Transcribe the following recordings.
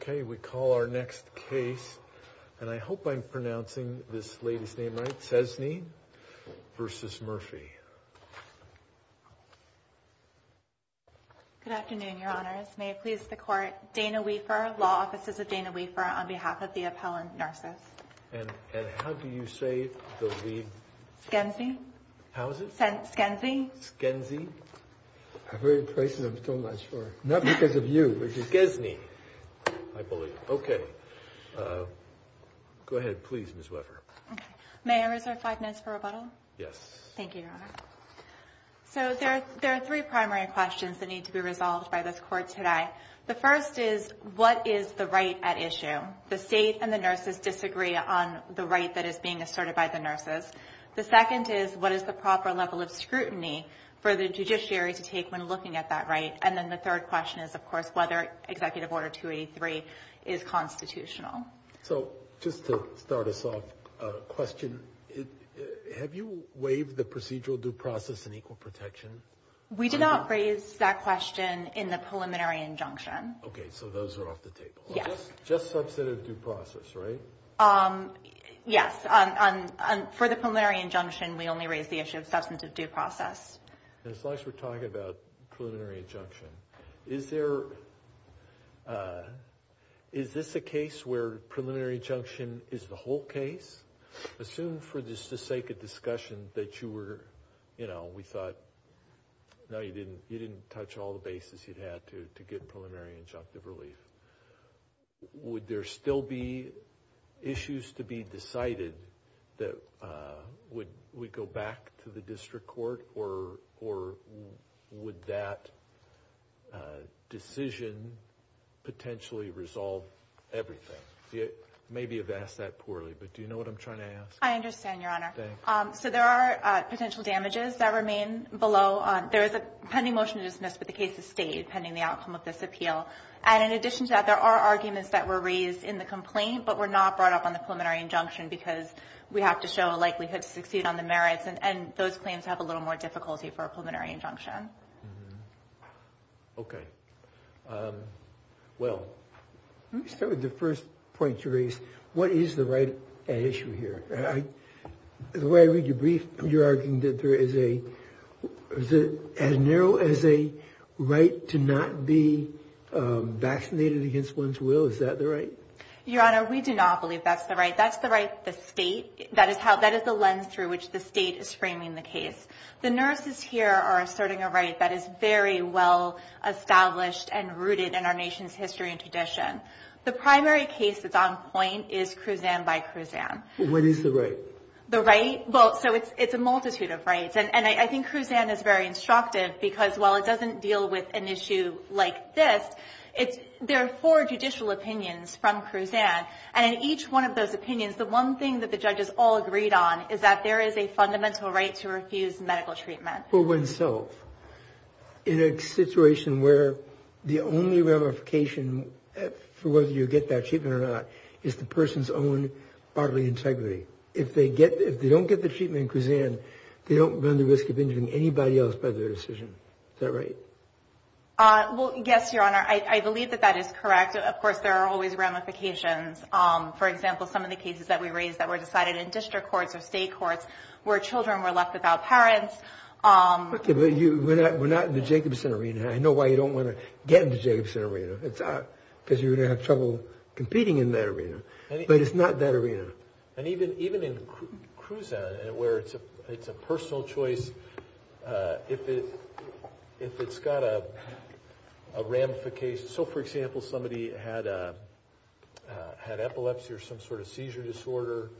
okay we call our next case and I hope I'm pronouncing this lady's name right Szesny versus Murphy. Good afternoon your honors may it please the court Dana Weafer law offices of Dana Weafer on behalf of the appellant nurses. And how do you say the lead? Skensny. How is it? Skensny. Skensny. I've heard places I'm so not sure. Not because of you. It's Skensny I believe. Okay go ahead please Ms. Weafer. May I reserve five minutes for rebuttal? Yes. Thank you your honor. So there are three primary questions that need to be resolved by this court today. The first is what is the right at issue? The state and the nurses disagree on the right that is being asserted by the nurses. The second is what is the proper level of protection? And the third question is of course whether executive order 283 is constitutional. So just to start us off a question have you waived the procedural due process and equal protection? We did not raise that question in the preliminary injunction. Okay so those are off the table. Yes. Just substantive due process right? Yes for the preliminary injunction we only raised the issue of preliminary injunction. Is there is this a case where preliminary injunction is the whole case? Assume for the sake of discussion that you were you know we thought no you didn't you didn't touch all the bases you'd had to to get preliminary injunctive relief. Would there still be issues to be decided that would we go back to the district court or or would that decision potentially resolve everything? Maybe you've asked that poorly but do you know what I'm trying to ask? I understand your honor. So there are potential damages that remain below. There is a pending motion to dismiss but the case is stayed pending the outcome of this appeal. And in addition to that there are arguments that were raised in the complaint but were not brought up on the preliminary injunction because we have to show a likelihood to succeed on the merits and and those claims have a little more difficulty for a preliminary injunction. Okay well let me start with the first point to raise. What is the right at issue here? The way I read your brief you're arguing that there is a as narrow as a right to not be vaccinated against one's will is that the right? Your honor we do not believe that's the right. That's the right the state that is how that is the lens through which the state is framing the case. The nurses here are asserting a right that is very well established and rooted in our nation's history and tradition. The primary case that's on point is Cruzan by Cruzan. What is the right? The right well so it's it's a multitude of rights and I think Cruzan is very instructive because while it doesn't deal with an issue like this it's there are four judicial opinions from Cruzan and in each one of those opinions the one thing that the judges all agreed on is that there is a fundamental right to refuse medical treatment. For oneself in a situation where the only ramification for whether you get that treatment or not is the person's own bodily integrity. If they get if they don't get the treatment in Cruzan they don't run the risk of injuring anybody else by their decision. Is that right? Well yes your honor I believe that that is correct. Of course there are always ramifications. For example some of the cases that we raised that were decided in district courts or state courts where children were left without parents. Okay but you we're not we're not in the Jacobson arena. I know why you don't want to get into Jacobson arena. It's not because you're gonna have trouble competing in that arena but it's not that arena. And even even in where it's a it's a personal choice if it if it's got a ramification so for example somebody had a had epilepsy or some sort of seizure disorder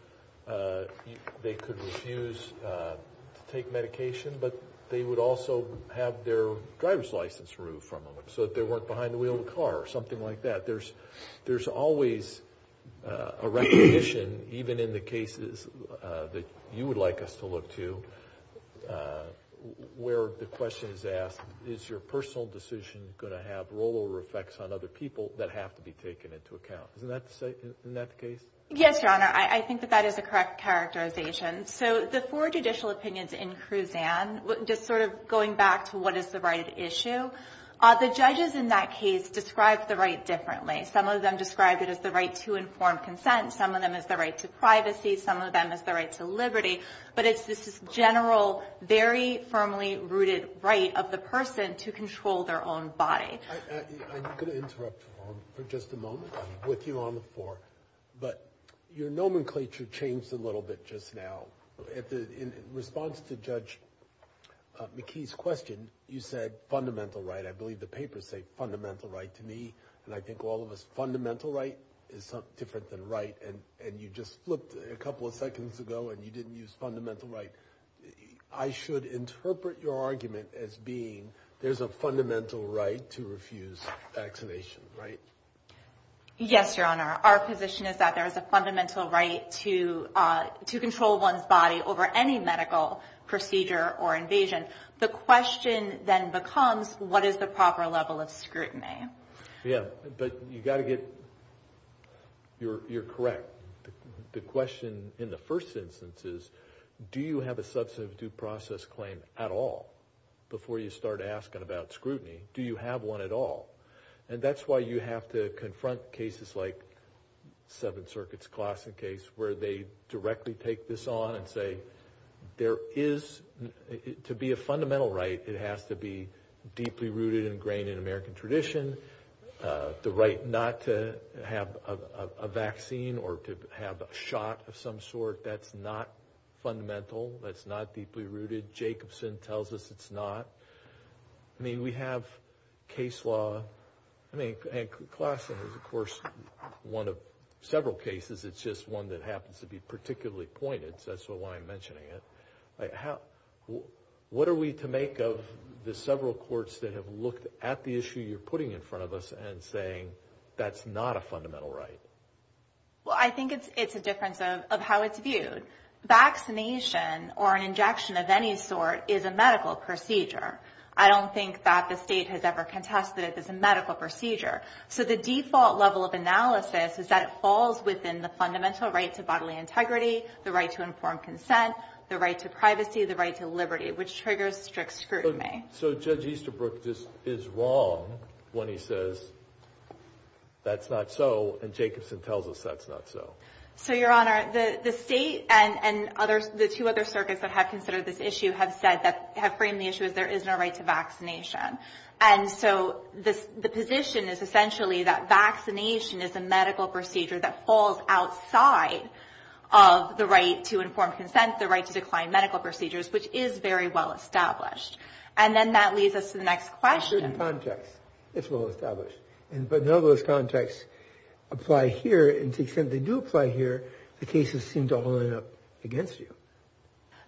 they could refuse to take medication but they would also have their driver's license removed from them so that they weren't behind the wheel of the car or something like that. There's there's always a recognition even in the cases that you would like us to look to where the question is asked is your personal decision gonna have rollover effects on other people that have to be taken into account. Isn't that the case? Yes your honor I think that that is a correct characterization. So the four judicial opinions in Cruzan just sort of going back to what is the issue. The judges in that case described the right differently. Some of them described it as the right to informed consent. Some of them as the right to privacy. Some of them as the right to liberty. But it's this general very firmly rooted right of the person to control their own body. I'm going to interrupt for just a moment with you on the floor but your nomenclature changed a little bit just now. In response to Judge McKee's question you said fundamental right. I believe the papers say fundamental right to me and I think all of us fundamental right is something different than right and and you just flipped a couple of seconds ago and you didn't use fundamental right. I should interpret your argument as being there's a fundamental right to refuse vaccination right? Yes your honor our position is that there is a fundamental right to to control one's body over any medical procedure or invasion. The question then becomes what is the proper level of scrutiny? Yeah but you got to get your you're correct. The question in the first instance is do you have a substantive due process claim at all before you start asking about scrutiny? Do you have one at all? And that's why you have to confront cases like Seventh Circuit's on and say there is to be a fundamental right it has to be deeply rooted and ingrained in American tradition. The right not to have a vaccine or to have a shot of some sort that's not fundamental. That's not deeply rooted. Jacobson tells us it's not. I mean we have case law. I mean Claassen is of course one of the particularly pointed so that's why I'm mentioning it. What are we to make of the several courts that have looked at the issue you're putting in front of us and saying that's not a fundamental right? Well I think it's it's a difference of how it's viewed. Vaccination or an injection of any sort is a medical procedure. I don't think that the state has ever contested it as a medical procedure. So the default level of analysis is that it falls within the right to integrity, the right to informed consent, the right to privacy, the right to liberty which triggers strict scrutiny. So Judge Easterbrook just is wrong when he says that's not so and Jacobson tells us that's not so. So your honor the the state and and others the two other circuits that have considered this issue have said that have framed the issue as there is no right to vaccination. And so this the position is essentially that vaccination is a medical procedure that falls outside of the right to informed consent, the right to decline medical procedures which is very well established. And then that leads us to the next question. In certain contexts it's well established but none of those contexts apply here and to the extent they do apply here the cases seem to all end up against you.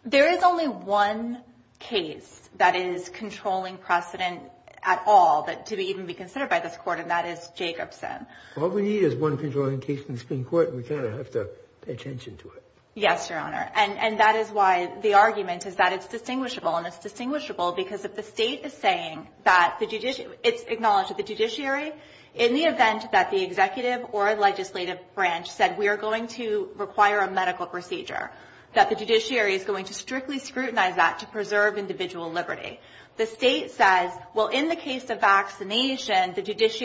There is only one case that is controlling precedent at all that to be even be considered by this court and that is Jacobson. All we need is one case in the Supreme Court and we kind of have to pay attention to it. Yes your honor and and that is why the argument is that it's distinguishable and it's distinguishable because if the state is saying that the judicial it's acknowledged that the judiciary in the event that the executive or legislative branch said we are going to require a medical procedure that the judiciary is going to strictly scrutinize that to preserve individual liberty. The state says well in the case of vaccination the case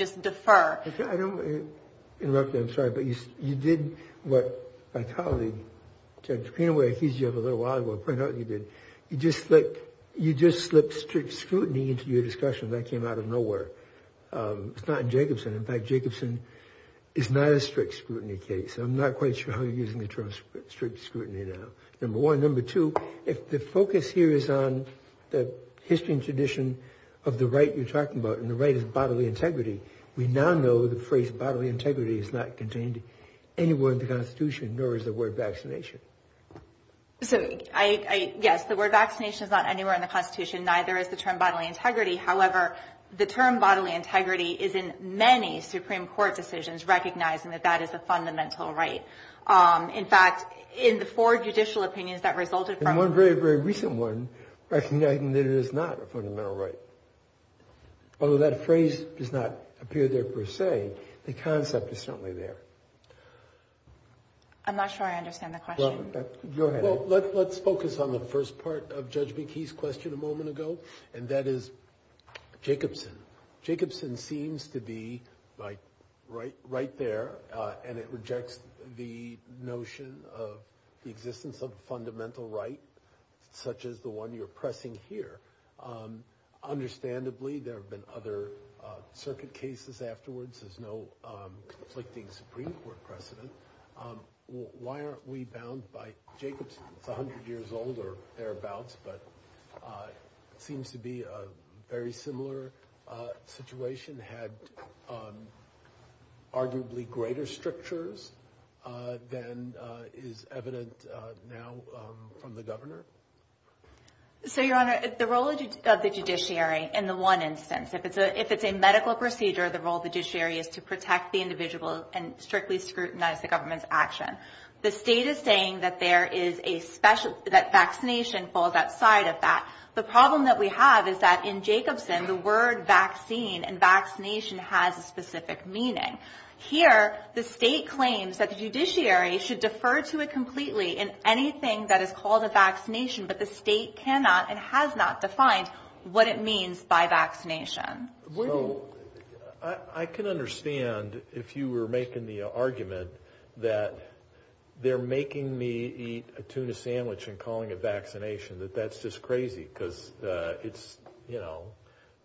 is deferred. I don't want to interrupt you, I'm sorry, but you did what my colleague, Judge Greenaway, accused you of a little while ago, pointed out you did. You just slipped strict scrutiny into your discussion. That came out of nowhere. It's not in Jacobson. In fact, Jacobson is not a strict scrutiny case. I'm not quite sure how you're using the term strict scrutiny now. Number one. Number two, if the focus here is on the history and tradition of the right you're talking about and the right is bodily integrity. We now know the phrase bodily integrity is not contained anywhere in the Constitution, nor is the word vaccination. So, yes, the word vaccination is not anywhere in the Constitution, neither is the term bodily integrity. However, the term bodily integrity is in many Supreme Court decisions recognizing that that is a fundamental right. In fact, in the four judicial opinions that resulted from one very very recent one, recognizing that it does not appear there per se, the concept is certainly there. I'm not sure I understand the question. Go ahead. Well, let's focus on the first part of Judge McKee's question a moment ago, and that is Jacobson. Jacobson seems to be right right there, and it rejects the notion of the existence of a fundamental right such as the one you're pressing here. Understandably, there have been other circuit cases afterwards. There's no conflicting Supreme Court precedent. Why aren't we bound by Jacobson? It's a hundred years old or thereabouts, but it seems to be a very similar situation, had arguably greater strictures than is evident now from the governor. So, Your Honor, the role of the judiciary in the one instance, if it's a medical procedure, the role of the judiciary is to protect the individual and strictly scrutinize the government's action. The state is saying that there is a special... that vaccination falls outside of that. The problem that we have is that in Jacobson, the word vaccine and vaccination has a specific meaning. Here, the state claims that the judiciary should defer to it completely in anything that is called a vaccination, but the state cannot and has not defined what it means by vaccination. So, I can understand if you were making the argument that they're making me eat a tuna sandwich and calling it vaccination, that that's just crazy because it's, you know,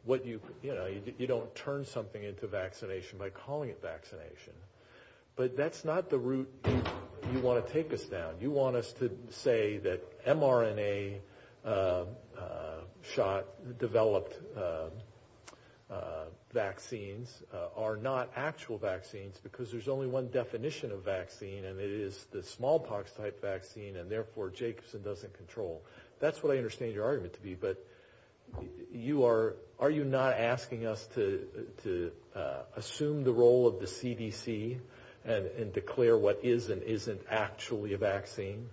what you... you know, you don't turn something into vaccination by calling it vaccination, but that's not the route you want to take us down. You want us to say that mRNA shot developed vaccines are not actual vaccines because there's only one definition of vaccine and it is the smallpox type vaccine and therefore Jacobson doesn't control. That's what I understand your argument to be, but you are... are you not asking us to assume the role of the CDC and declare what is and actually a vaccine?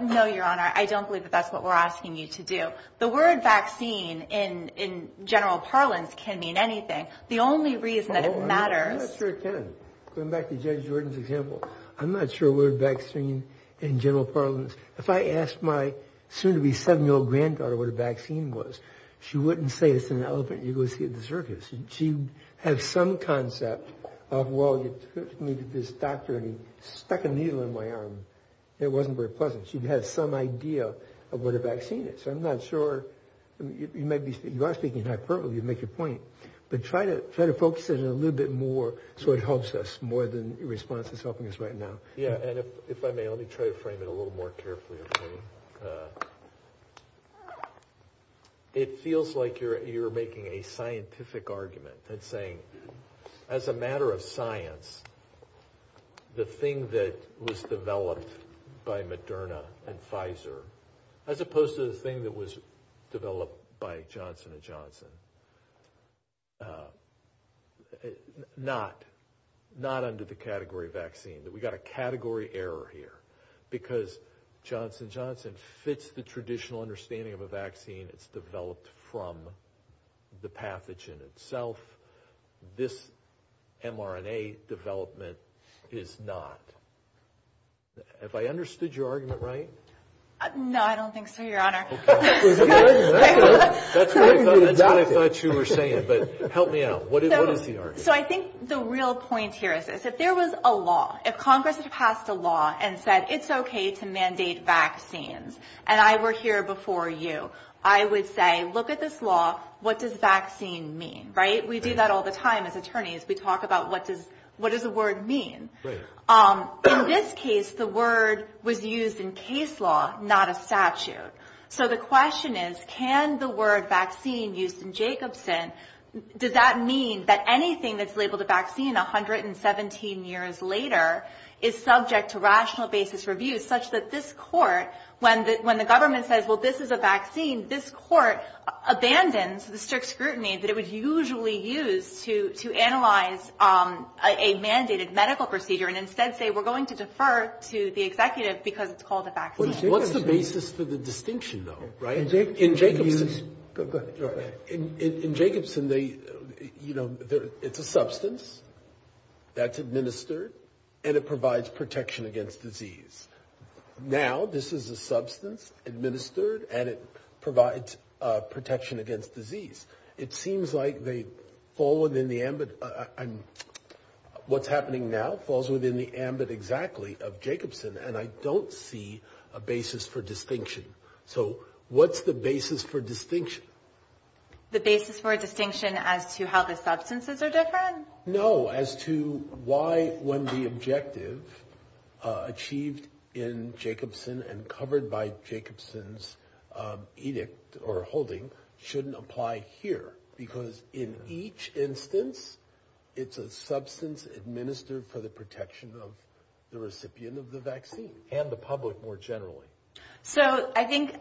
No, your honor. I don't believe that that's what we're asking you to do. The word vaccine in... in general parlance can mean anything. The only reason that it matters... I'm not sure it can. Going back to Judge Jordan's example, I'm not sure the word vaccine in general parlance... if I asked my soon-to-be seven-year-old granddaughter what a vaccine was, she wouldn't say it's an elephant you go see at the circus. She'd have some concept of, well, you took me to this doctor and he stuck a needle in my arm. It wasn't very pleasant. She'd had some idea of what a vaccine is. I'm not sure... you might be... you are speaking in hyperbole. You make your point, but try to try to focus it a little bit more so it helps us more than your response is helping us right now. Yeah, and if I may, let me try to frame it a little more carefully. It feels like you're... you're making a scientific argument and saying as a matter of science, the thing that was developed by Moderna and Pfizer, as opposed to the thing that was developed by Johnson & Johnson, not... not under the category of vaccine. That we got a category error here because Johnson & Johnson fits the traditional understanding of a vaccine. It's this mRNA development is not. Have I understood your argument right? No, I don't think so, your honor. That's what I thought you were saying, but help me out. What is the argument? So I think the real point here is is if there was a law, if Congress had passed a law and said it's okay to mandate vaccines and I were here before you, I would say look at this law. What does vaccine mean, right? We do that all the time as attorneys. We talk about what does... what does the word mean? In this case, the word was used in case law, not a statute. So the question is, can the word vaccine used in Jacobson, does that mean that anything that's labeled a vaccine a hundred and seventeen years later is subject to rational basis reviews such that this court, when the government says, well this is a vaccine, this court abandons the strict scrutiny that it would usually use to analyze a mandated medical procedure and instead say we're going to defer to the executive because it's called a vaccine. What's the basis for the distinction though, right? In Jacobson, you know, it's a substance that's administered and it provides protection against disease. Now this is a substance administered and it provides protection against disease. It seems like they fall within the ambit... what's happening now falls within the ambit exactly of Jacobson and I don't see a basis for distinction. So what's the basis for distinction? The basis for distinction as to how the substances are different? No, as to why when the objective achieved in Jacobson and covered by Jacobson's edict or holding shouldn't apply here because in each instance it's a substance administered for the protection of the recipient of the vaccine and the public more generally. So I think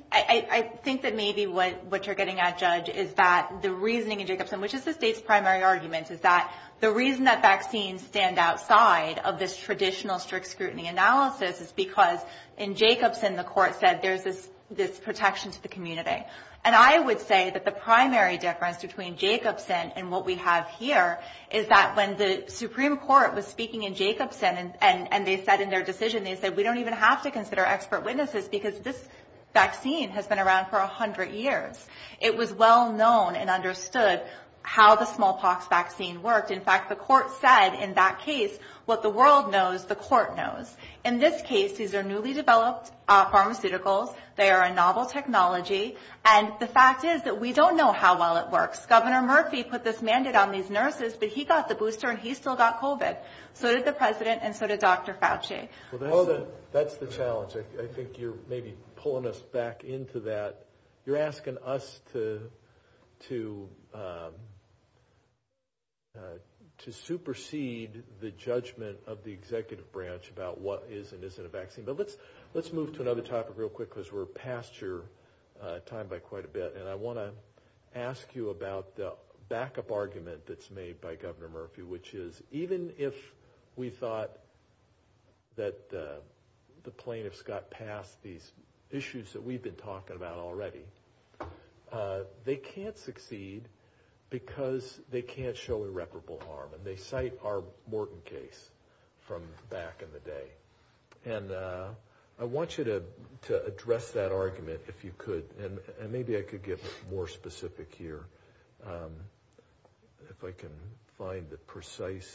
that maybe what you're getting at, Judge, is that the reasoning in Jacobson, which is the state's primary argument, is that the traditional strict scrutiny analysis is because in Jacobson the court said there's this protection to the community. And I would say that the primary difference between Jacobson and what we have here is that when the Supreme Court was speaking in Jacobson and they said in their decision, they said we don't even have to consider expert witnesses because this vaccine has been around for a hundred years. It was well known and understood how the world knows, the court knows. In this case, these are newly developed pharmaceuticals. They are a novel technology and the fact is that we don't know how well it works. Governor Murphy put this mandate on these nurses but he got the booster and he still got COVID. So did the president and so did Dr. Fauci. Well, that's the challenge. I think you're maybe pulling us back into that. You're asking us to supersede the judgment of the executive branch about what is and isn't a vaccine. But let's let's move to another topic real quick because we're past your time by quite a bit and I want to ask you about the backup argument that's made by Governor Murphy, which is even if we thought that the plaintiffs got past these issues that we've been talking about already, they can't succeed because they can't show irreparable harm and they cite our Morton case from back in the day. And I want you to address that argument if you could and maybe I could get more specific here. If I can find the precise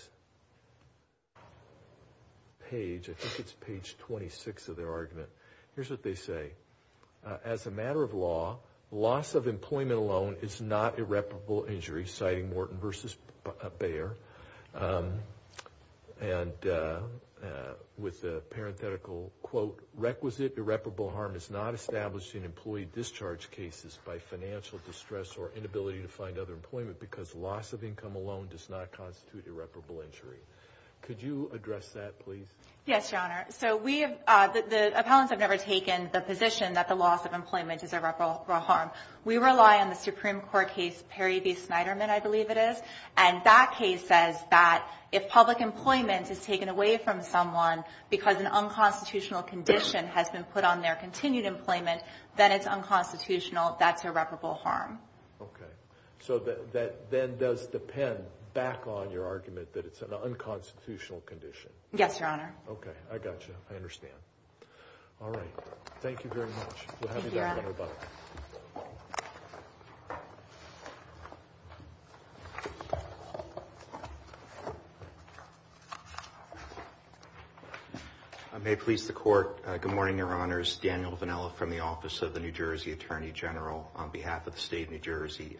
page. I think it's page 26 of their argument. Here's what they say. As a matter of law, loss of employment alone is not irreparable injury, citing Morton versus Bayer. And with the parenthetical quote, requisite irreparable harm is not established in employee discharge cases by financial distress or inability to find other employment because loss of income alone does not constitute irreparable injury. Could you address that, please? Yes, your honor. So we have the opponents have never taken the position that the loss of employment is irreparable harm. We rely on the Supreme Court case Perry v. Snyderman, I believe it is. And that case says that if public employment is taken away from someone because an unconstitutional condition has been put on their continued employment, then it's unconstitutional. That's irreparable harm. Okay, so that then does depend back on your argument that it's an unconstitutional condition. Yes, your honor. Okay, I got you. I understand. All right. Thank you very much. I may please the court. Good morning, your honors. Daniel Vanella from the Office of the New Jersey Attorney General on behalf of the state of New Jersey.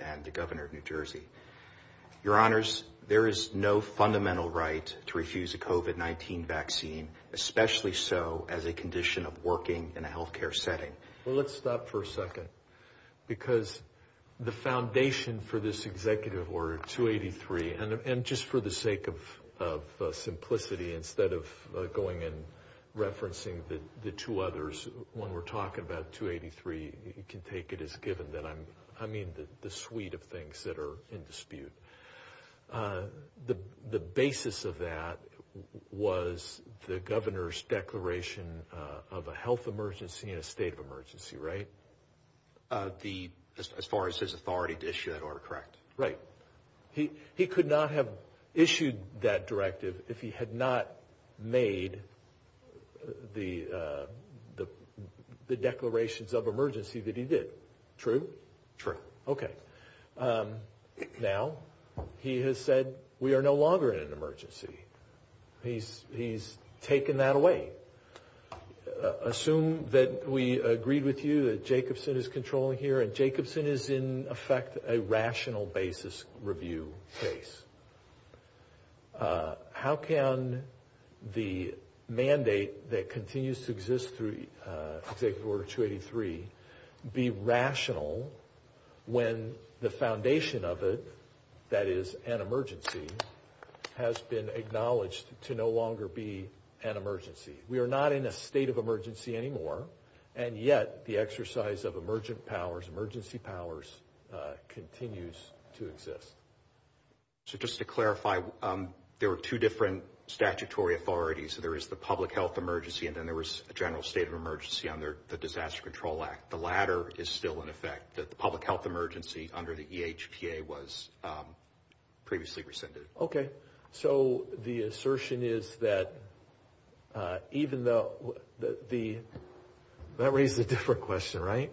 Your honors, there is no fundamental right to refuse a COVID-19 vaccine, especially so as a condition of working in a health care setting. Well, let's stop for a second. Because the foundation for this executive order 283, and just for the sake of simplicity, instead of going in, referencing the two others, when we're talking about 283, you can take it as I mean, the suite of things that are in dispute. The basis of that was the governor's declaration of a health emergency in a state of emergency, right? As far as his authority to issue that order, correct? Right. He could not have issued that directive if he had not made the decision. True. Okay. Now, he has said we are no longer in an emergency. He's taken that away. Assume that we agreed with you that Jacobson is controlling here and Jacobson is in effect a rational basis review case. How can the mandate that when the foundation of it, that is an emergency, has been acknowledged to no longer be an emergency? We are not in a state of emergency anymore. And yet the exercise of emergent powers, emergency powers, continues to exist. So just to clarify, there were two different statutory authorities. There is the public health emergency, and then there was a general state of emergency under the Disaster Control Act. The latter is still in effect. The public health emergency under the EHPA was previously rescinded. Okay. So the assertion is that even though the... That raises a different question, right?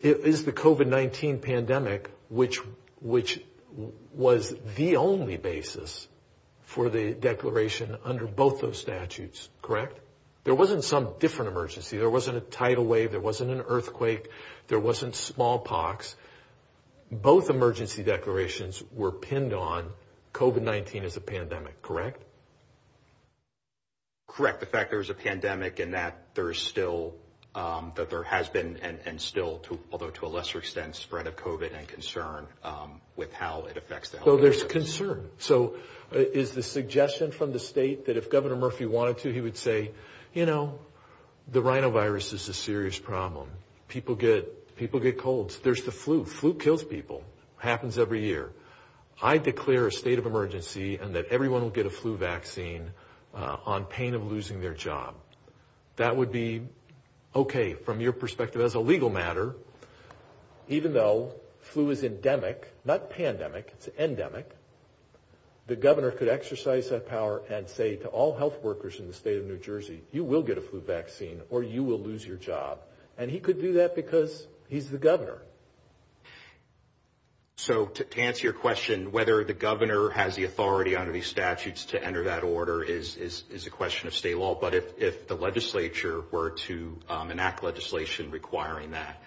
Is the COVID-19 pandemic, which was the only basis for the declaration under both those statutes, correct? There wasn't some different emergency. There wasn't a tidal wave. There wasn't an earthquake. There wasn't smallpox. Both emergency declarations were pinned on COVID-19 as a pandemic, correct? Correct. The fact there's a pandemic and that there is still... That there has been and still, although to a lesser extent, spread of COVID and concern with how it affects the health care system. So there's concern. So is the suggestion from the state that if Governor Murphy wanted to, he would say, you know, the rhinovirus is a serious problem. People get colds. There's the flu. Flu kills people. Happens every year. I declare a state of emergency and that everyone will get a flu vaccine on pain of losing their job. That would be okay from your perspective as a legal matter. Even though flu is endemic, not pandemic, it's endemic, the governor could exercise that power and say to all health workers in the state of New Jersey, you will get a flu vaccine or you will lose your job. And he could do that because he's the governor. So to answer your question, whether the governor has the authority under these statutes to enter that order is a question of state law. But if the legislature were to enact legislation requiring that,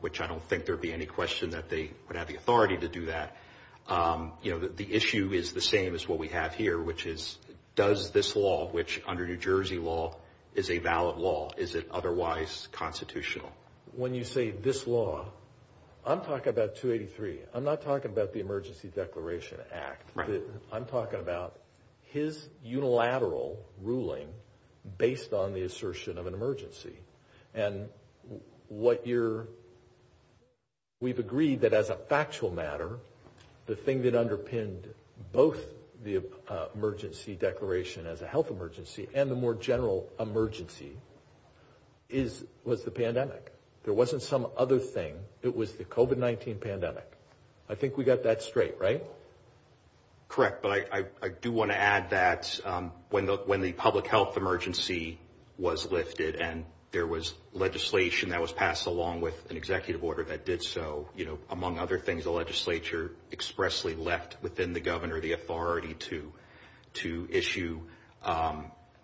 which I don't think there'd be any question that they would have the authority to do that. You know, the issue is the same as what we have here, which is, does this law, which under New Jersey law is a valid law, is it otherwise constitutional? When you say this law, I'm talking about 283. I'm not talking about the Emergency Declaration Act. I'm talking about his unilateral ruling based on the assertion of an emergency and what you're saying. We've agreed that as a factual matter, the thing that underpinned both the emergency declaration as a health emergency and the more general emergency is, was the pandemic. There wasn't some other thing. It was the COVID-19 pandemic. I think we got that straight, right? Correct. But I do want to add that when the public health emergency was lifted and there was legislation that was passed along with an executive order that did so, you know, among other things, the legislature expressly left within the governor the authority to, to issue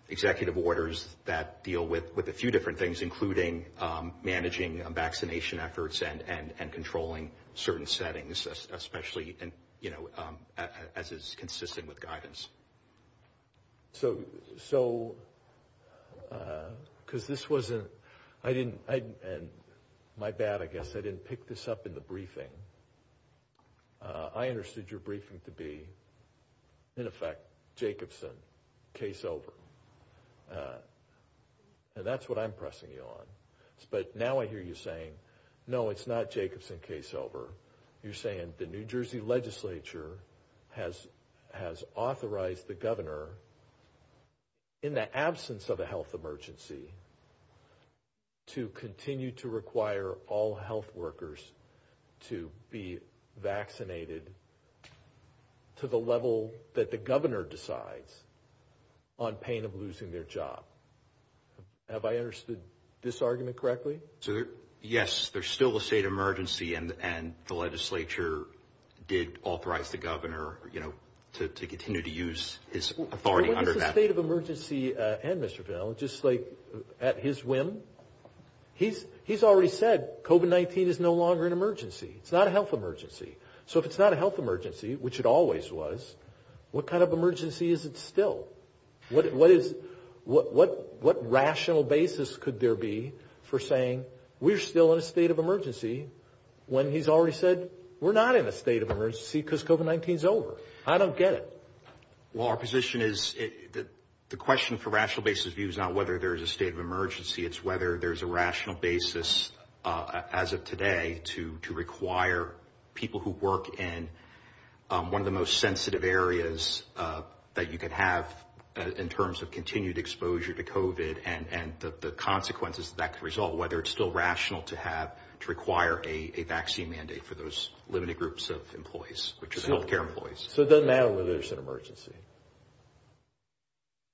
executive orders that deal with, with a few different things, including managing vaccination efforts and, and, and controlling certain settings, especially in, you know, as is consistent with guidance. So, so uh, because this wasn't, I didn't, I, and my bad, I guess I didn't pick this up in the briefing. Uh, I understood your briefing to be in effect, Jacobson case over. Uh, and that's what I'm pressing you on. But now I hear you saying, no, it's not Jacobson case over. You're saying the New Jersey legislature has, has authorized the governor in the absence of a health emergency to continue to require all health workers to be vaccinated to the level that the governor decides on pain of losing their job. Have I understood this argument correctly? So yes, there's still a state emergency and, and the legislature did authorize the governor, you know, to, to continue to use his authority under that state of emergency. Uh, and Mr. Vail, just like at his whim, he's, he's already said COVID-19 is no longer an emergency. It's not a health emergency. So if it's not a health emergency, which it always was, what kind of emergency is it still? What, what is, what, what, what rational basis could there be for saying we're still in a state of emergency when he's already said we're not in a state of emergency because COVID-19 is over. I don't get it. Well, our position is that the question for rational basis views, not whether there's a state of emergency, it's whether there's a rational basis, uh, as of today to, to require people who work in, um, one of the most sensitive areas, uh, that you could have in terms of continued exposure to COVID and, and the consequences that could result, whether it's still rational to have, to groups of employees, which is healthcare employees. So it doesn't matter whether there's an emergency.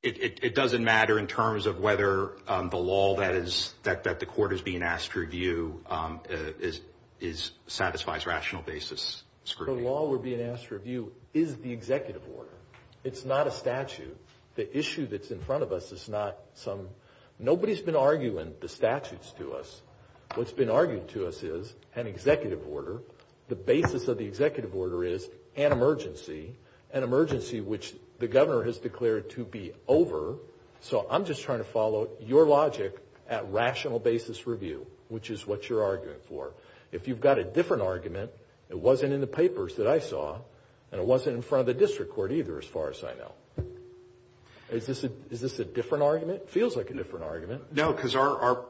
It, it, it doesn't matter in terms of whether, um, the law that is, that, that the court is being asked to review, um, uh, is, is, satisfies rational basis scrutiny. The law we're being asked to review is the executive order. It's not a statute. The issue that's in front of us is not some, nobody's been arguing the statutes to us. What's been argued to us is an executive order. The basis of the executive order is an emergency, an emergency, which the governor has declared to be over. So I'm just trying to follow your logic at rational basis review, which is what you're arguing for. If you've got a different argument, it wasn't in the papers that I saw and it wasn't in front of the district court either, as far as I know. Is this a, is this a different argument? It feels like a different argument. No, because our, our,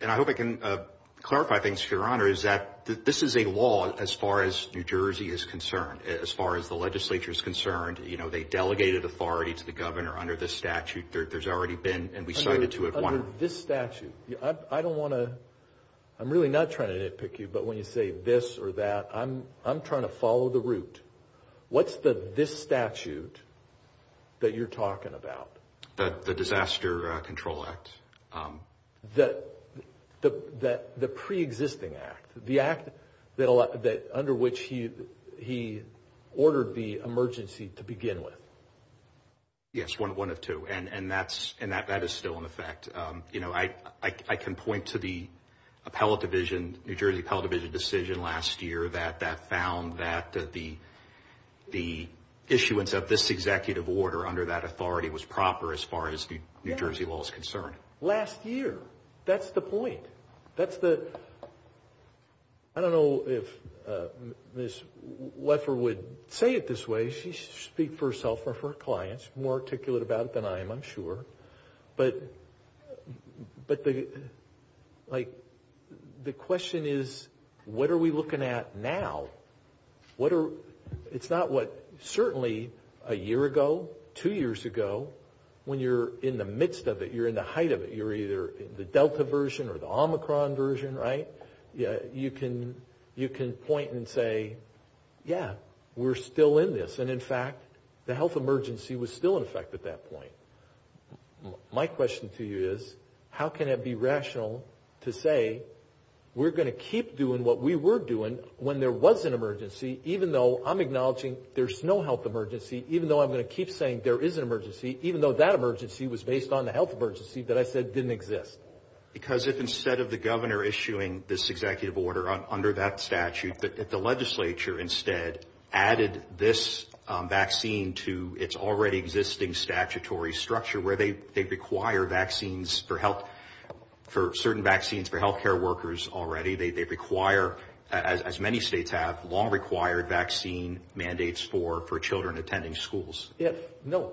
and I hope I can, uh, clarify things for your honor, is that this is a law as far as New Jersey is concerned, as far as the legislature is concerned. You know, they delegated authority to the governor under this statute. There, there's already been, and we cited to it. Under this statute. I, I don't want to, I'm really not trying to nitpick you, but when you say this or that, I'm, I'm trying to follow the route. What's the, this statute that you're talking about? The, the Disaster Control Act. Um, the, the, the, the preexisting act, the act that, that under which he, he ordered the emergency to begin with. Yes. One of two. And, and that's, and that, that is still in effect. Um, you know, I, I, I can point to the appellate division, New Jersey appellate division decision last year that, that found that the, the issuance of this executive order under that authority was proper as far as the New Jersey law is concerned. Last year. That's the point. That's the, I don't know if, uh, Ms. Leffer would say it this way. She's speak for herself or for her clients, more articulate about it than I am, I'm sure. But, but the, like, the question is, what are we two years ago when you're in the midst of it, you're in the height of it, you're either in the Delta version or the Omicron version, right? Yeah. You can, you can point and say, yeah, we're still in this. And in fact, the health emergency was still in effect at that point. My question to you is, how can it be rational to say we're going to keep doing what we were doing when there was an emergency, even though I'm acknowledging there's no health emergency, even though I'm going to keep saying there is an emergency, even though that emergency was based on the health emergency that I said didn't exist? Because if instead of the governor issuing this executive order under that statute, the legislature instead added this vaccine to its already existing statutory structure where they, they require vaccines for health, for certain vaccines for healthcare workers already, they require as many states have long been doing that. If, no.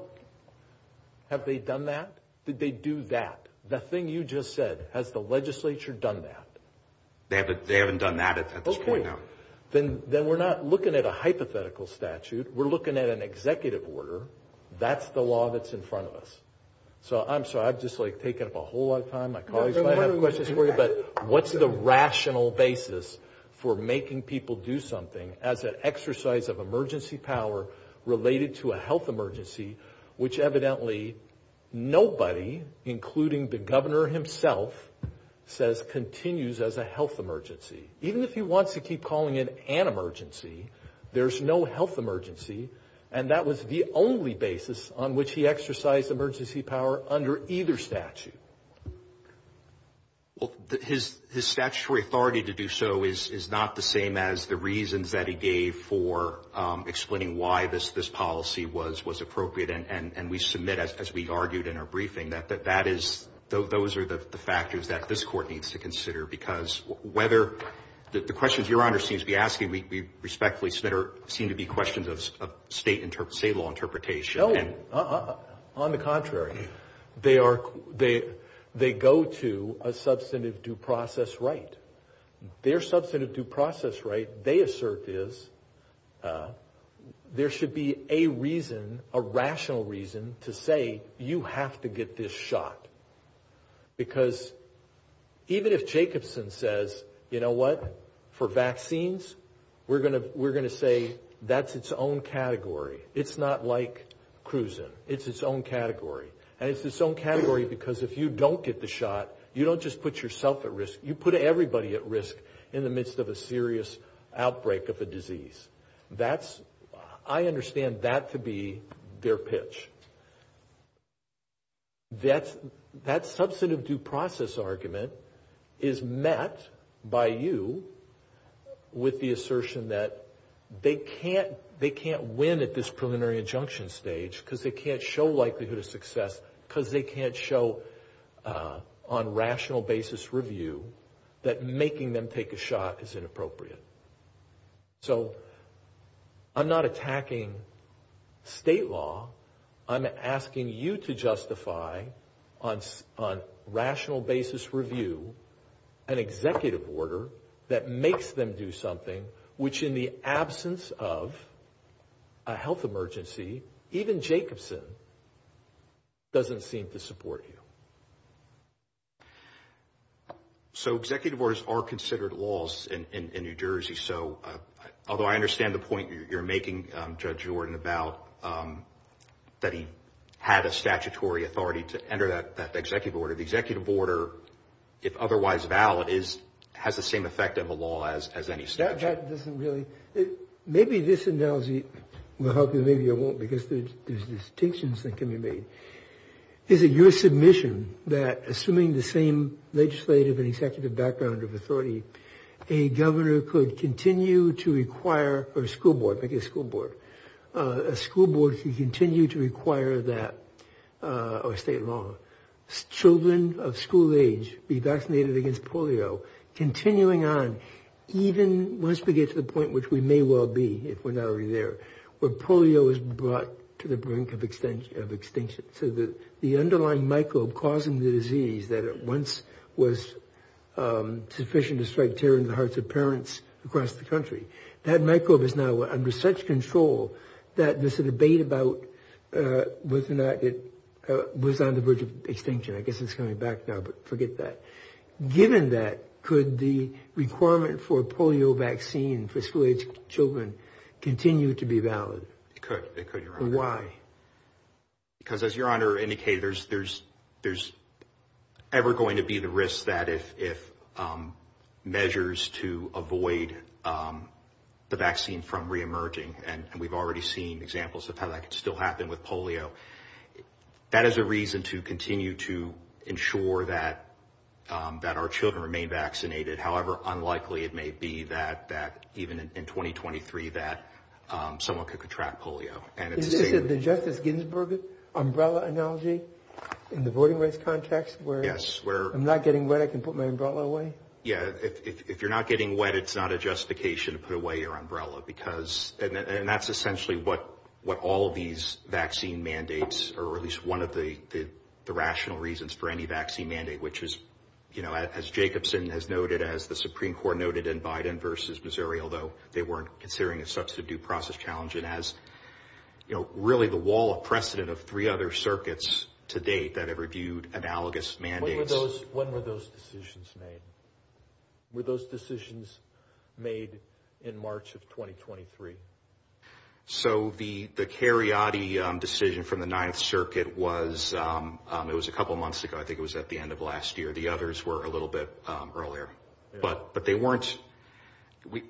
Have they done that? Did they do that? The thing you just said, has the legislature done that? They haven't, they haven't done that at this point. Okay. Then, then we're not looking at a hypothetical statute. We're looking at an executive order. That's the law that's in front of us. So I'm sorry, I've just like taken up a whole lot of time. My colleagues might have questions for you, but what's the rational basis for making people do something as an exercise of related to a health emergency, which evidently nobody, including the governor himself says continues as a health emergency. Even if he wants to keep calling it an emergency, there's no health emergency. And that was the only basis on which he exercised emergency power under either statute. Well, his, his statutory authority to do so is, is not the same as the reasons that he gave for explaining why this, this policy was, was appropriate. And, and, and we submit as, as we argued in our briefing, that, that, that is, those are the factors that this court needs to consider because whether the, the questions your honor seems to be asking, we, we respectfully submit, seem to be questions of state inter, state law interpretation. No, on the contrary. They are, they, they go to a substantive due process right. Their substantive due process right, they assert is there should be a reason, a rational reason to say you have to get this shot. Because even if Jacobson says, you know what, for vaccines, we're gonna, we're gonna say that's its own category. It's not like Cruzan. It's its own category. And it's its own category because if you don't get the shot, you don't just put yourself at risk, you put everybody at risk in the midst of a serious outbreak of a disease. That's, I understand that to be their pitch. That's, that substantive due process argument is met by you with the assertion that they can't, they can't win at this preliminary injunction stage because they can't show likelihood of success because they can't show on rational basis review that making them take a shot is inappropriate. So, I'm not attacking state law. I'm asking you to justify on, on rational basis review an executive order that makes them do something which in the absence of a health emergency, even Jacobson doesn't seem to support you. So executive orders are considered laws in New Jersey. So, although I understand the point you're making, Judge Jordan, about that he had a statutory authority to enter that executive order, the executive order, if otherwise valid, is, has the same effect of a law as, as any statute. That doesn't really, maybe this analogy will help you, maybe it won't because there's distinctions that can be made. Is it your submission that assuming the same legislative and executive background of authority, a governor could continue to require, or a school board, make a school board, a school board could continue to require that, or state law, children of school age be vaccinated against polio, continuing on, even once we get to the point which we may well be, if we're not already there, where polio is brought to the brink of extension, of extinction. So the, the underlying microbe causing the disease that at once was sufficient to strike terror into the hearts of parents across the country, that microbe is now under such control that there's a debate about whether or not it was on the verge of extinction. I guess it's coming back now, but forget that. Given that, could the requirement for polio vaccine for school aged children continue to be valid? It could, it could, your honor. Why? Because as your honor indicated, there's, there's, there's ever going to be the risk that if, if measures to avoid the vaccine from re-emerging, and we've already seen examples of how that could still happen with polio, that is a reason to continue to ensure that, that our children remain vaccinated. However, unlikely it may be that, that even in 2023, that someone could contract polio. And it's the Justice Ginsburg umbrella analogy in the voting rights context, where I'm not getting wet, I can put my umbrella away. Yeah. If you're not getting wet, it's not a justification to put away your umbrella because, and that's essentially what, what all of these vaccine mandates or at least one of the, the rational reasons for any vaccine mandate, which is, you know, as Jacobson has noted, as the Supreme Court noted in Biden versus Missouri, although they weren't considering a substantive due process challenge and as, you know, really the wall of precedent of three other circuits to date that have reviewed analogous mandates. When were those decisions made? Were those decisions made in March of 2023? So the, the Cariotti decision from the Ninth Circuit was, it was a couple of months ago. I think it was at the end of last year. The others were a little bit earlier, but, but they weren't, we,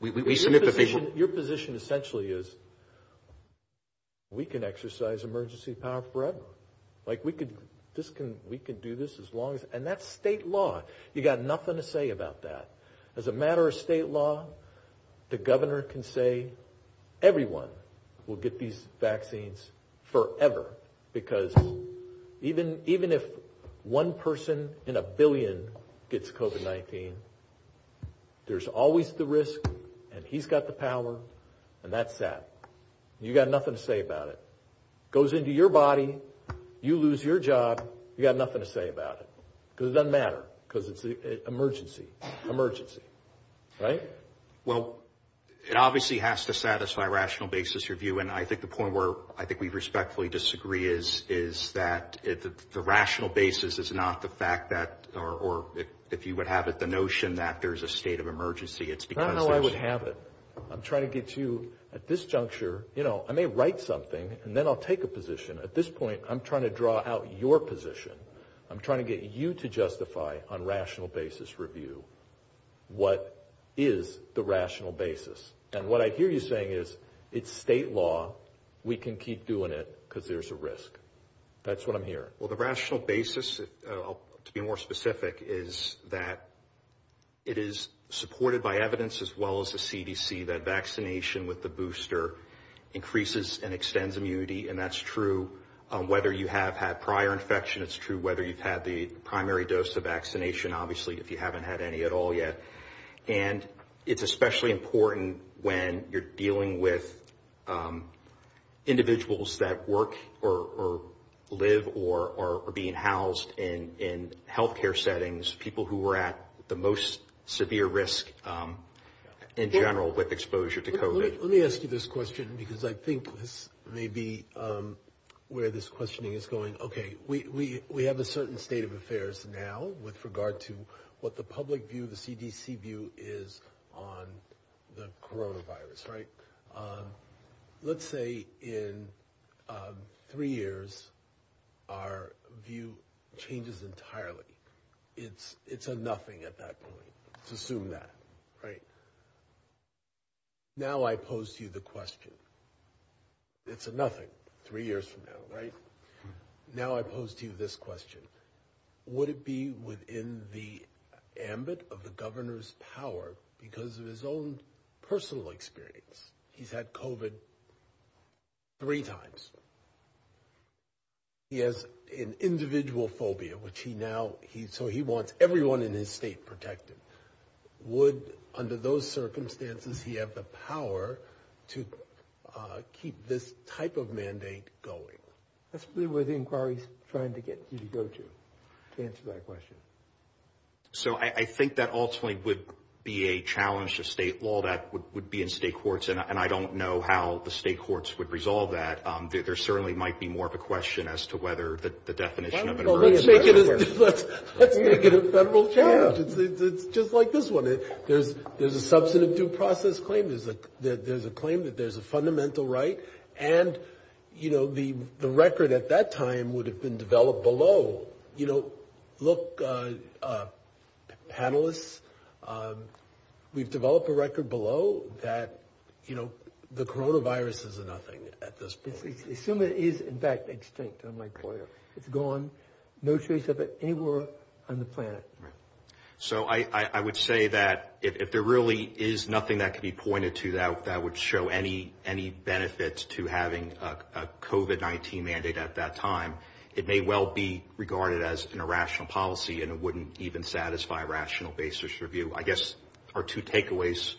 we, we submit that they were. Your position essentially is, we can exercise emergency power forever. Like we could, this can, we can do this as long as, and that's state law. You got nothing to say about that. As a matter of state law, the governor can say, everyone will get these vaccines forever because even, even if one person in a billion gets COVID-19, there's always the risk and he's got the power and that's that. You got nothing to say about it. It goes into your body. You lose your job. You got nothing to say about it. Because it doesn't matter because it's the emergency, emergency, right? Well, it obviously has to satisfy rational basis review. And I think the point where I think we respectfully disagree is, is that the rational basis is not the fact that, or if you would have it, the notion that there's a state of emergency, it's because there's... Not how I would have it. I'm trying to get you at this juncture, you know, I may write something and then I'll take a position. At this point, I'm trying to draw out your position. I'm trying to get you to justify on rational basis review. What is the rational basis? And what I hear you saying is it's state law. We can keep doing it because there's a risk. That's what I'm hearing. Well, the rational basis to be more specific is that it is supported by evidence as well as the CDC, that vaccination with the booster increases and extends immunity. And that's true. Whether you have had prior infection, it's true. Whether you've had the primary dose of vaccination, obviously, if you haven't had any at all yet. And it's especially important when you're dealing with individuals that work or live or are being housed in healthcare settings, people who were at the most severe risk in general with exposure to COVID. Let me ask you this question because I think this may be where this questioning is going. OK, we have a certain state of affairs now with regard to what the public view, the CDC view is on the coronavirus, right? Let's say in three years, our view changes entirely. It's a nothing at that point. Let's assume that, right? Now, I pose to you the question, it's a nothing three years from now, right? Now, I pose to you this question, would it be within the ambit of the governor's power because of his own personal experience? He's had COVID three times. He has an individual phobia, which he now, so he wants everyone in his state protected. Would, under those circumstances, he have the power to keep this type of mandate going? That's really where the inquiry is trying to get you to go to, to answer that question. So, I think that ultimately would be a challenge to state law that would be in state courts. And I don't know how the state courts would resolve that. There certainly might be more of a question as to whether the definition of it works. Let's make it a federal challenge. It's just like this one. There's a substantive due process claim. There's a claim that there's a fundamental right. And, you know, the record at that time would have been developed below. You know, look, panelists, we've developed a record below that, you know, the coronavirus is a nothing at this point. Assume it is, in fact, extinct. I'm like, boy, it's gone. No trace of it anywhere on the planet. So, I would say that if there really is nothing that could be pointed to that, that would show any benefits to having a COVID-19 mandate at that time. It may well be regarded as an irrational policy, and it wouldn't even satisfy a rational basis review. I guess our two takeaways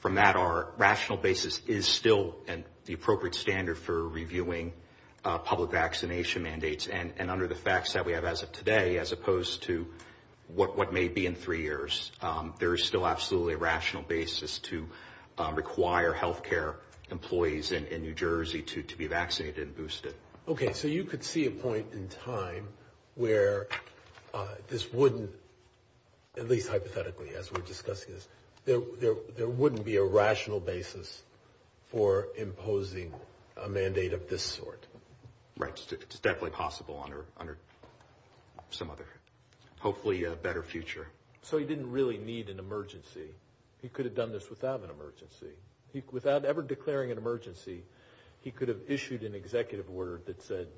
from that are rational basis is still the appropriate standard for reviewing public vaccination mandates. And under the facts that we have as of today, as opposed to what may be in three years, there is still absolutely a rational basis to require health care employees in New Jersey to be vaccinated and boosted. OK, so you could see a point in time where this wouldn't, at least hypothetically, as we're discussing this, there wouldn't be a rational basis for imposing a mandate of this sort. Right, it's definitely possible under some other, hopefully, better future. So, he didn't really need an emergency. He could have done this without an emergency. Without ever declaring an emergency, he could have issued an executive order that said,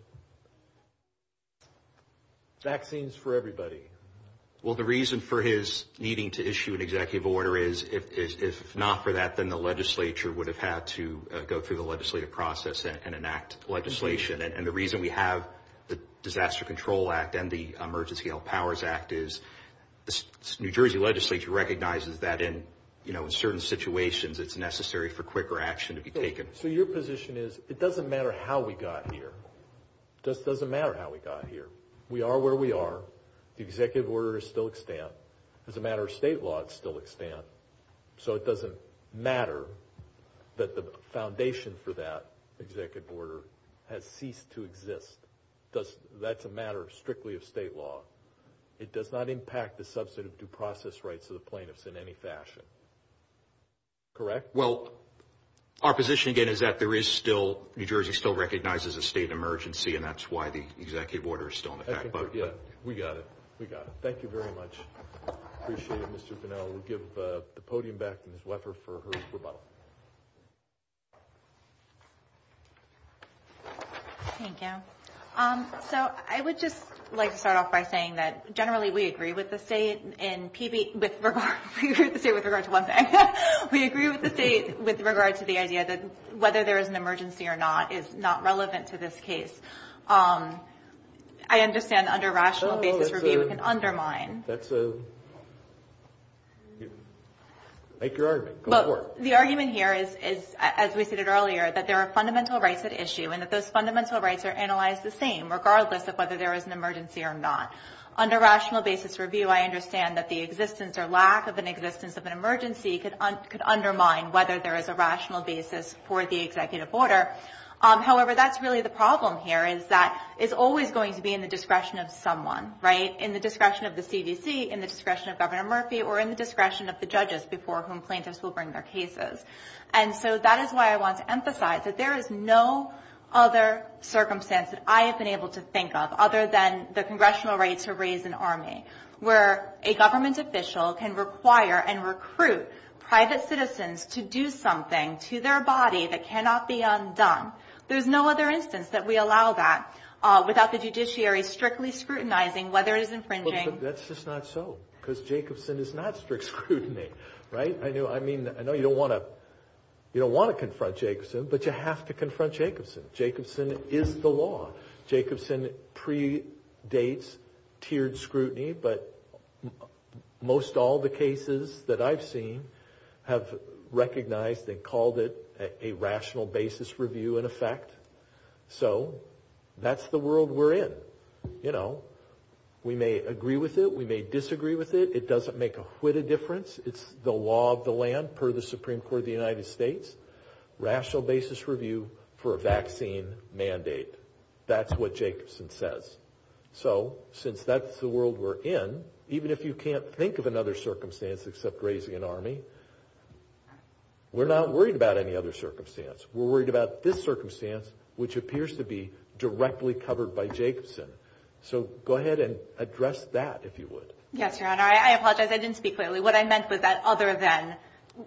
vaccines for everybody. Well, the reason for his needing to issue an executive order is, if not for that, then the legislature would have had to go through the legislative process and enact legislation. And the reason we have the Disaster Control Act and the Emergency Health Powers Act is, the New Jersey legislature recognizes that in certain situations, it's necessary for quicker action to be taken. So, your position is, it doesn't matter how we got here. Doesn't matter how we got here. We are where we are. The executive order is still extant. As a matter of state law, it's still extant. So, it doesn't matter that the foundation for that executive order has ceased to exist. That's a matter strictly of state law. It does not impact the substantive due process rights of the plaintiffs in any fashion. Correct? Well, our position, again, is that there is still, New Jersey still recognizes a state emergency and that's why the executive order is still in effect. Yeah, we got it. We got it. Thank you very much. Appreciate it, Mr. Bunnell. We'll give the podium back to Ms. Weffer for her rebuttal. Thank you. So, I would just like to start off by saying that, generally, we agree with the state in PB, with regard, we agree with the state with regard to one thing. We agree with the state with regard to the idea that whether there is an emergency or not is not relevant to this case. I understand under rational basis review, we can undermine. That's a, make your argument. Go for it. The argument here is, as we stated earlier, that there are fundamental rights at issue and that those fundamental rights are analyzed the same, regardless of whether there is an emergency or not. Under rational basis review, I understand that the existence or lack of an existence of an emergency could undermine whether there is a rational basis for the executive order. However, that's really the problem here is that it's always going to be in the discretion of in the discretion of Governor Murphy or in the discretion of the judges before whom plaintiffs will bring their cases. And so, that is why I want to emphasize that there is no other circumstance that I have been able to think of, other than the congressional right to raise an army, where a government official can require and recruit private citizens to do something to their body that cannot be undone. There's no other instance that we allow that without the judiciary strictly scrutinizing whether it is infringing. That's just not so, because Jacobson is not strict scrutiny, right? I know you don't want to confront Jacobson, but you have to confront Jacobson. Jacobson is the law. Jacobson predates tiered scrutiny, but most all the cases that I've seen have recognized and called it a rational basis review in effect. So, that's the world we're in. You know, we may agree with it. We may disagree with it. It doesn't make a whitta difference. It's the law of the land per the Supreme Court of the United States. Rational basis review for a vaccine mandate. That's what Jacobson says. So, since that's the world we're in, even if you can't think of another circumstance except raising an army, we're not worried about any other circumstance. We're worried about this circumstance, which appears to be directly covered by Jacobson. So, go ahead and address that, if you would. Yes, Your Honor. I apologize. I didn't speak clearly. What I meant was that other than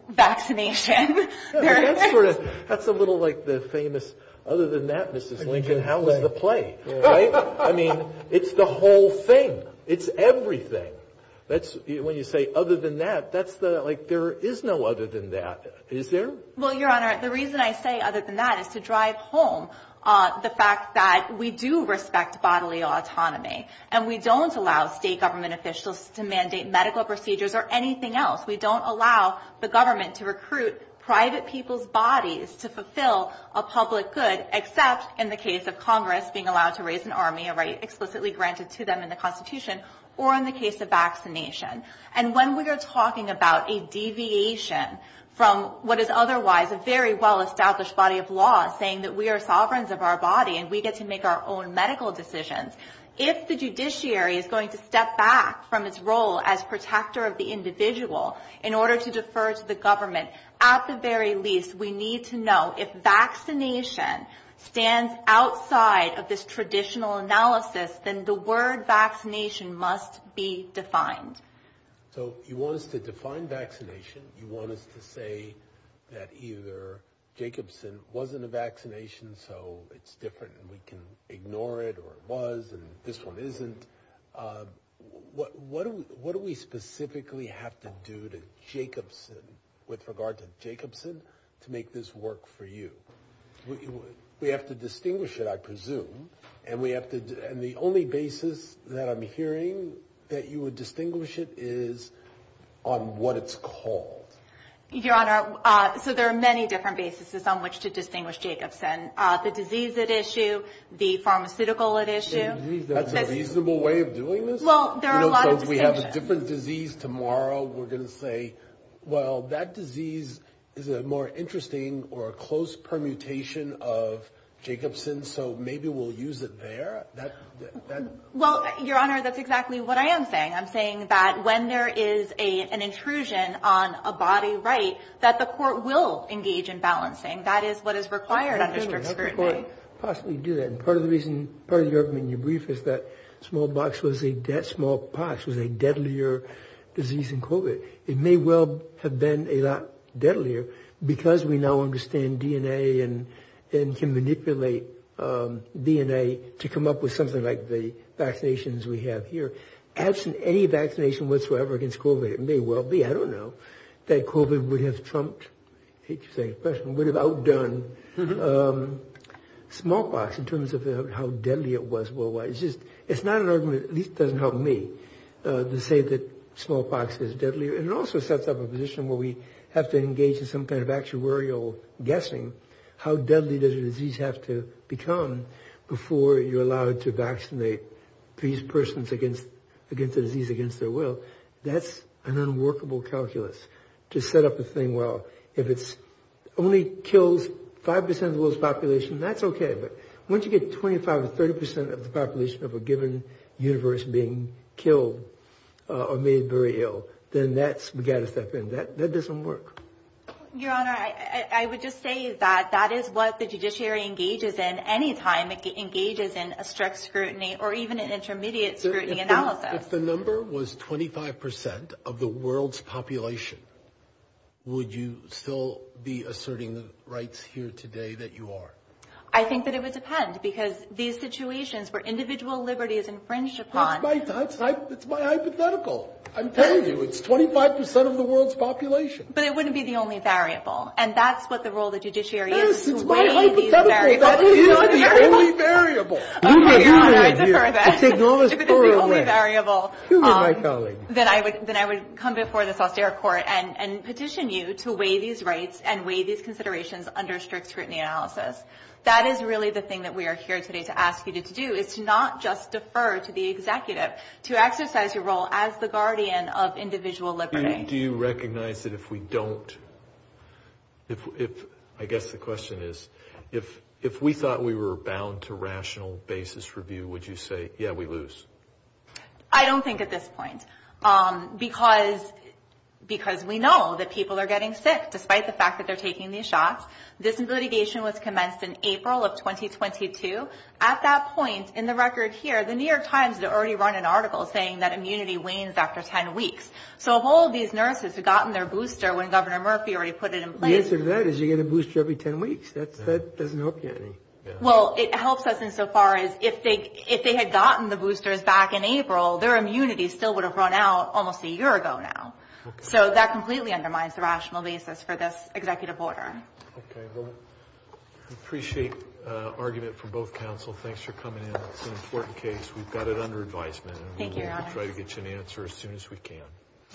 vaccination. That's a little like the famous, other than that, Mrs. Lincoln, how was the play? I mean, it's the whole thing. It's everything. When you say other than that, that's the, like, there is no other than that. Is there? Well, Your Honor, the reason I say other than that is to drive home the fact that we do respect bodily autonomy. And we don't allow state government officials to mandate medical procedures or anything else. We don't allow the government to recruit private people's bodies to fulfill a public good, except in the case of Congress being allowed to raise an army, a right explicitly granted to them in the Constitution, or in the case of vaccination. And when we are talking about a deviation from what is otherwise a very well-established body of law, saying that we are sovereigns of our body and we get to make our own medical decisions, if the judiciary is going to step back from its role as protector of the individual in order to defer to the government, at the very least, we need to know if vaccination stands outside of this traditional analysis, then the word vaccination must be defined. So you want us to define vaccination. You want us to say that either Jacobson wasn't a vaccination, so it's different, and we can ignore it, or it was, and this one isn't. What do we specifically have to do to Jacobson, with regard to Jacobson, to make this work for you? We have to distinguish it, I presume, and the only basis that I'm hearing that you would distinguish it is on what it's called. Your Honor, so there are many different bases on which to distinguish Jacobson. The disease at issue, the pharmaceutical at issue. That's a reasonable way of doing this? Well, there are a lot of distinctions. So if we have a different disease tomorrow, we're going to say, well, that disease is a more interesting or a close permutation of Jacobson, so maybe we'll use it there? Well, Your Honor, that's exactly what I am saying. I'm saying that when there is an intrusion on a body right, that the court will engage in balancing. That is what is required under strict scrutiny. How could the court possibly do that? And part of the reason, part of your brief is that smallpox was a, smallpox was a deadlier disease than COVID. It may well have been a lot deadlier because we now understand DNA and can manipulate DNA to come up with something like the vaccinations we have here. Absent any vaccination whatsoever against COVID, it may well be, I don't know, that COVID would have trumped, I hate to say it, would have outdone smallpox in terms of how deadly it was worldwide. It's just, it's not an argument, at least it doesn't help me, to say that smallpox is deadlier. And it also sets up a position where we have to engage in some kind of actuarial guessing. How deadly does a disease have to become before you're allowed to vaccinate these persons against the disease, against their will? That's an unworkable calculus to set up a thing. Well, if it only kills 5% of the world's population, that's okay. But once you get 25 or 30% of the population of a given universe being killed or made very ill, then that's, we got to step in. That doesn't work. Your Honor, I would just say that that is what the judiciary engages in any time it engages in a strict scrutiny or even an intermediate scrutiny analysis. If the number was 25% of the world's population, would you still be asserting the rights here today that you are? I think that it would depend because these situations where individual liberty is infringed upon- It's my hypothetical. I'm telling you, it's 25% of the world's population. But it wouldn't be the only variable. And that's what the role of the judiciary is to weigh these variables. Yes, it's my hypothetical, that is the only variable. Oh, my God, I defer that. It's the only variable. Human, my colleague. Then I would come before this austere court and petition you to weigh these rights and weigh these considerations under strict scrutiny analysis. That is really the thing that we are here today to ask you to do, is to not just defer to the executive, to exercise your role as the guardian of individual liberty. Do you recognize that if we don't... I guess the question is, if we thought we were bound to rational basis review, would you say, yeah, we lose? I don't think at this point, because we know that people are getting sick despite the fact that they're taking these shots. This litigation was commenced in April of 2022. At that point, in the record here, the New York Times had already run an article saying that immunity wanes after 10 weeks. So if all of these nurses had gotten their booster when Governor Murphy already put it in place... The answer to that is you get a booster every 10 weeks. That doesn't help you any. Well, it helps us insofar as if they had gotten the boosters back in April, their immunity still would have run out almost a year ago now. So that completely undermines the rational basis for this executive order. Okay, well, I appreciate argument from both counsel. Thanks for coming in. We've got it under advisement. Thank you, Your Honor. Try to get you an answer as soon as we can.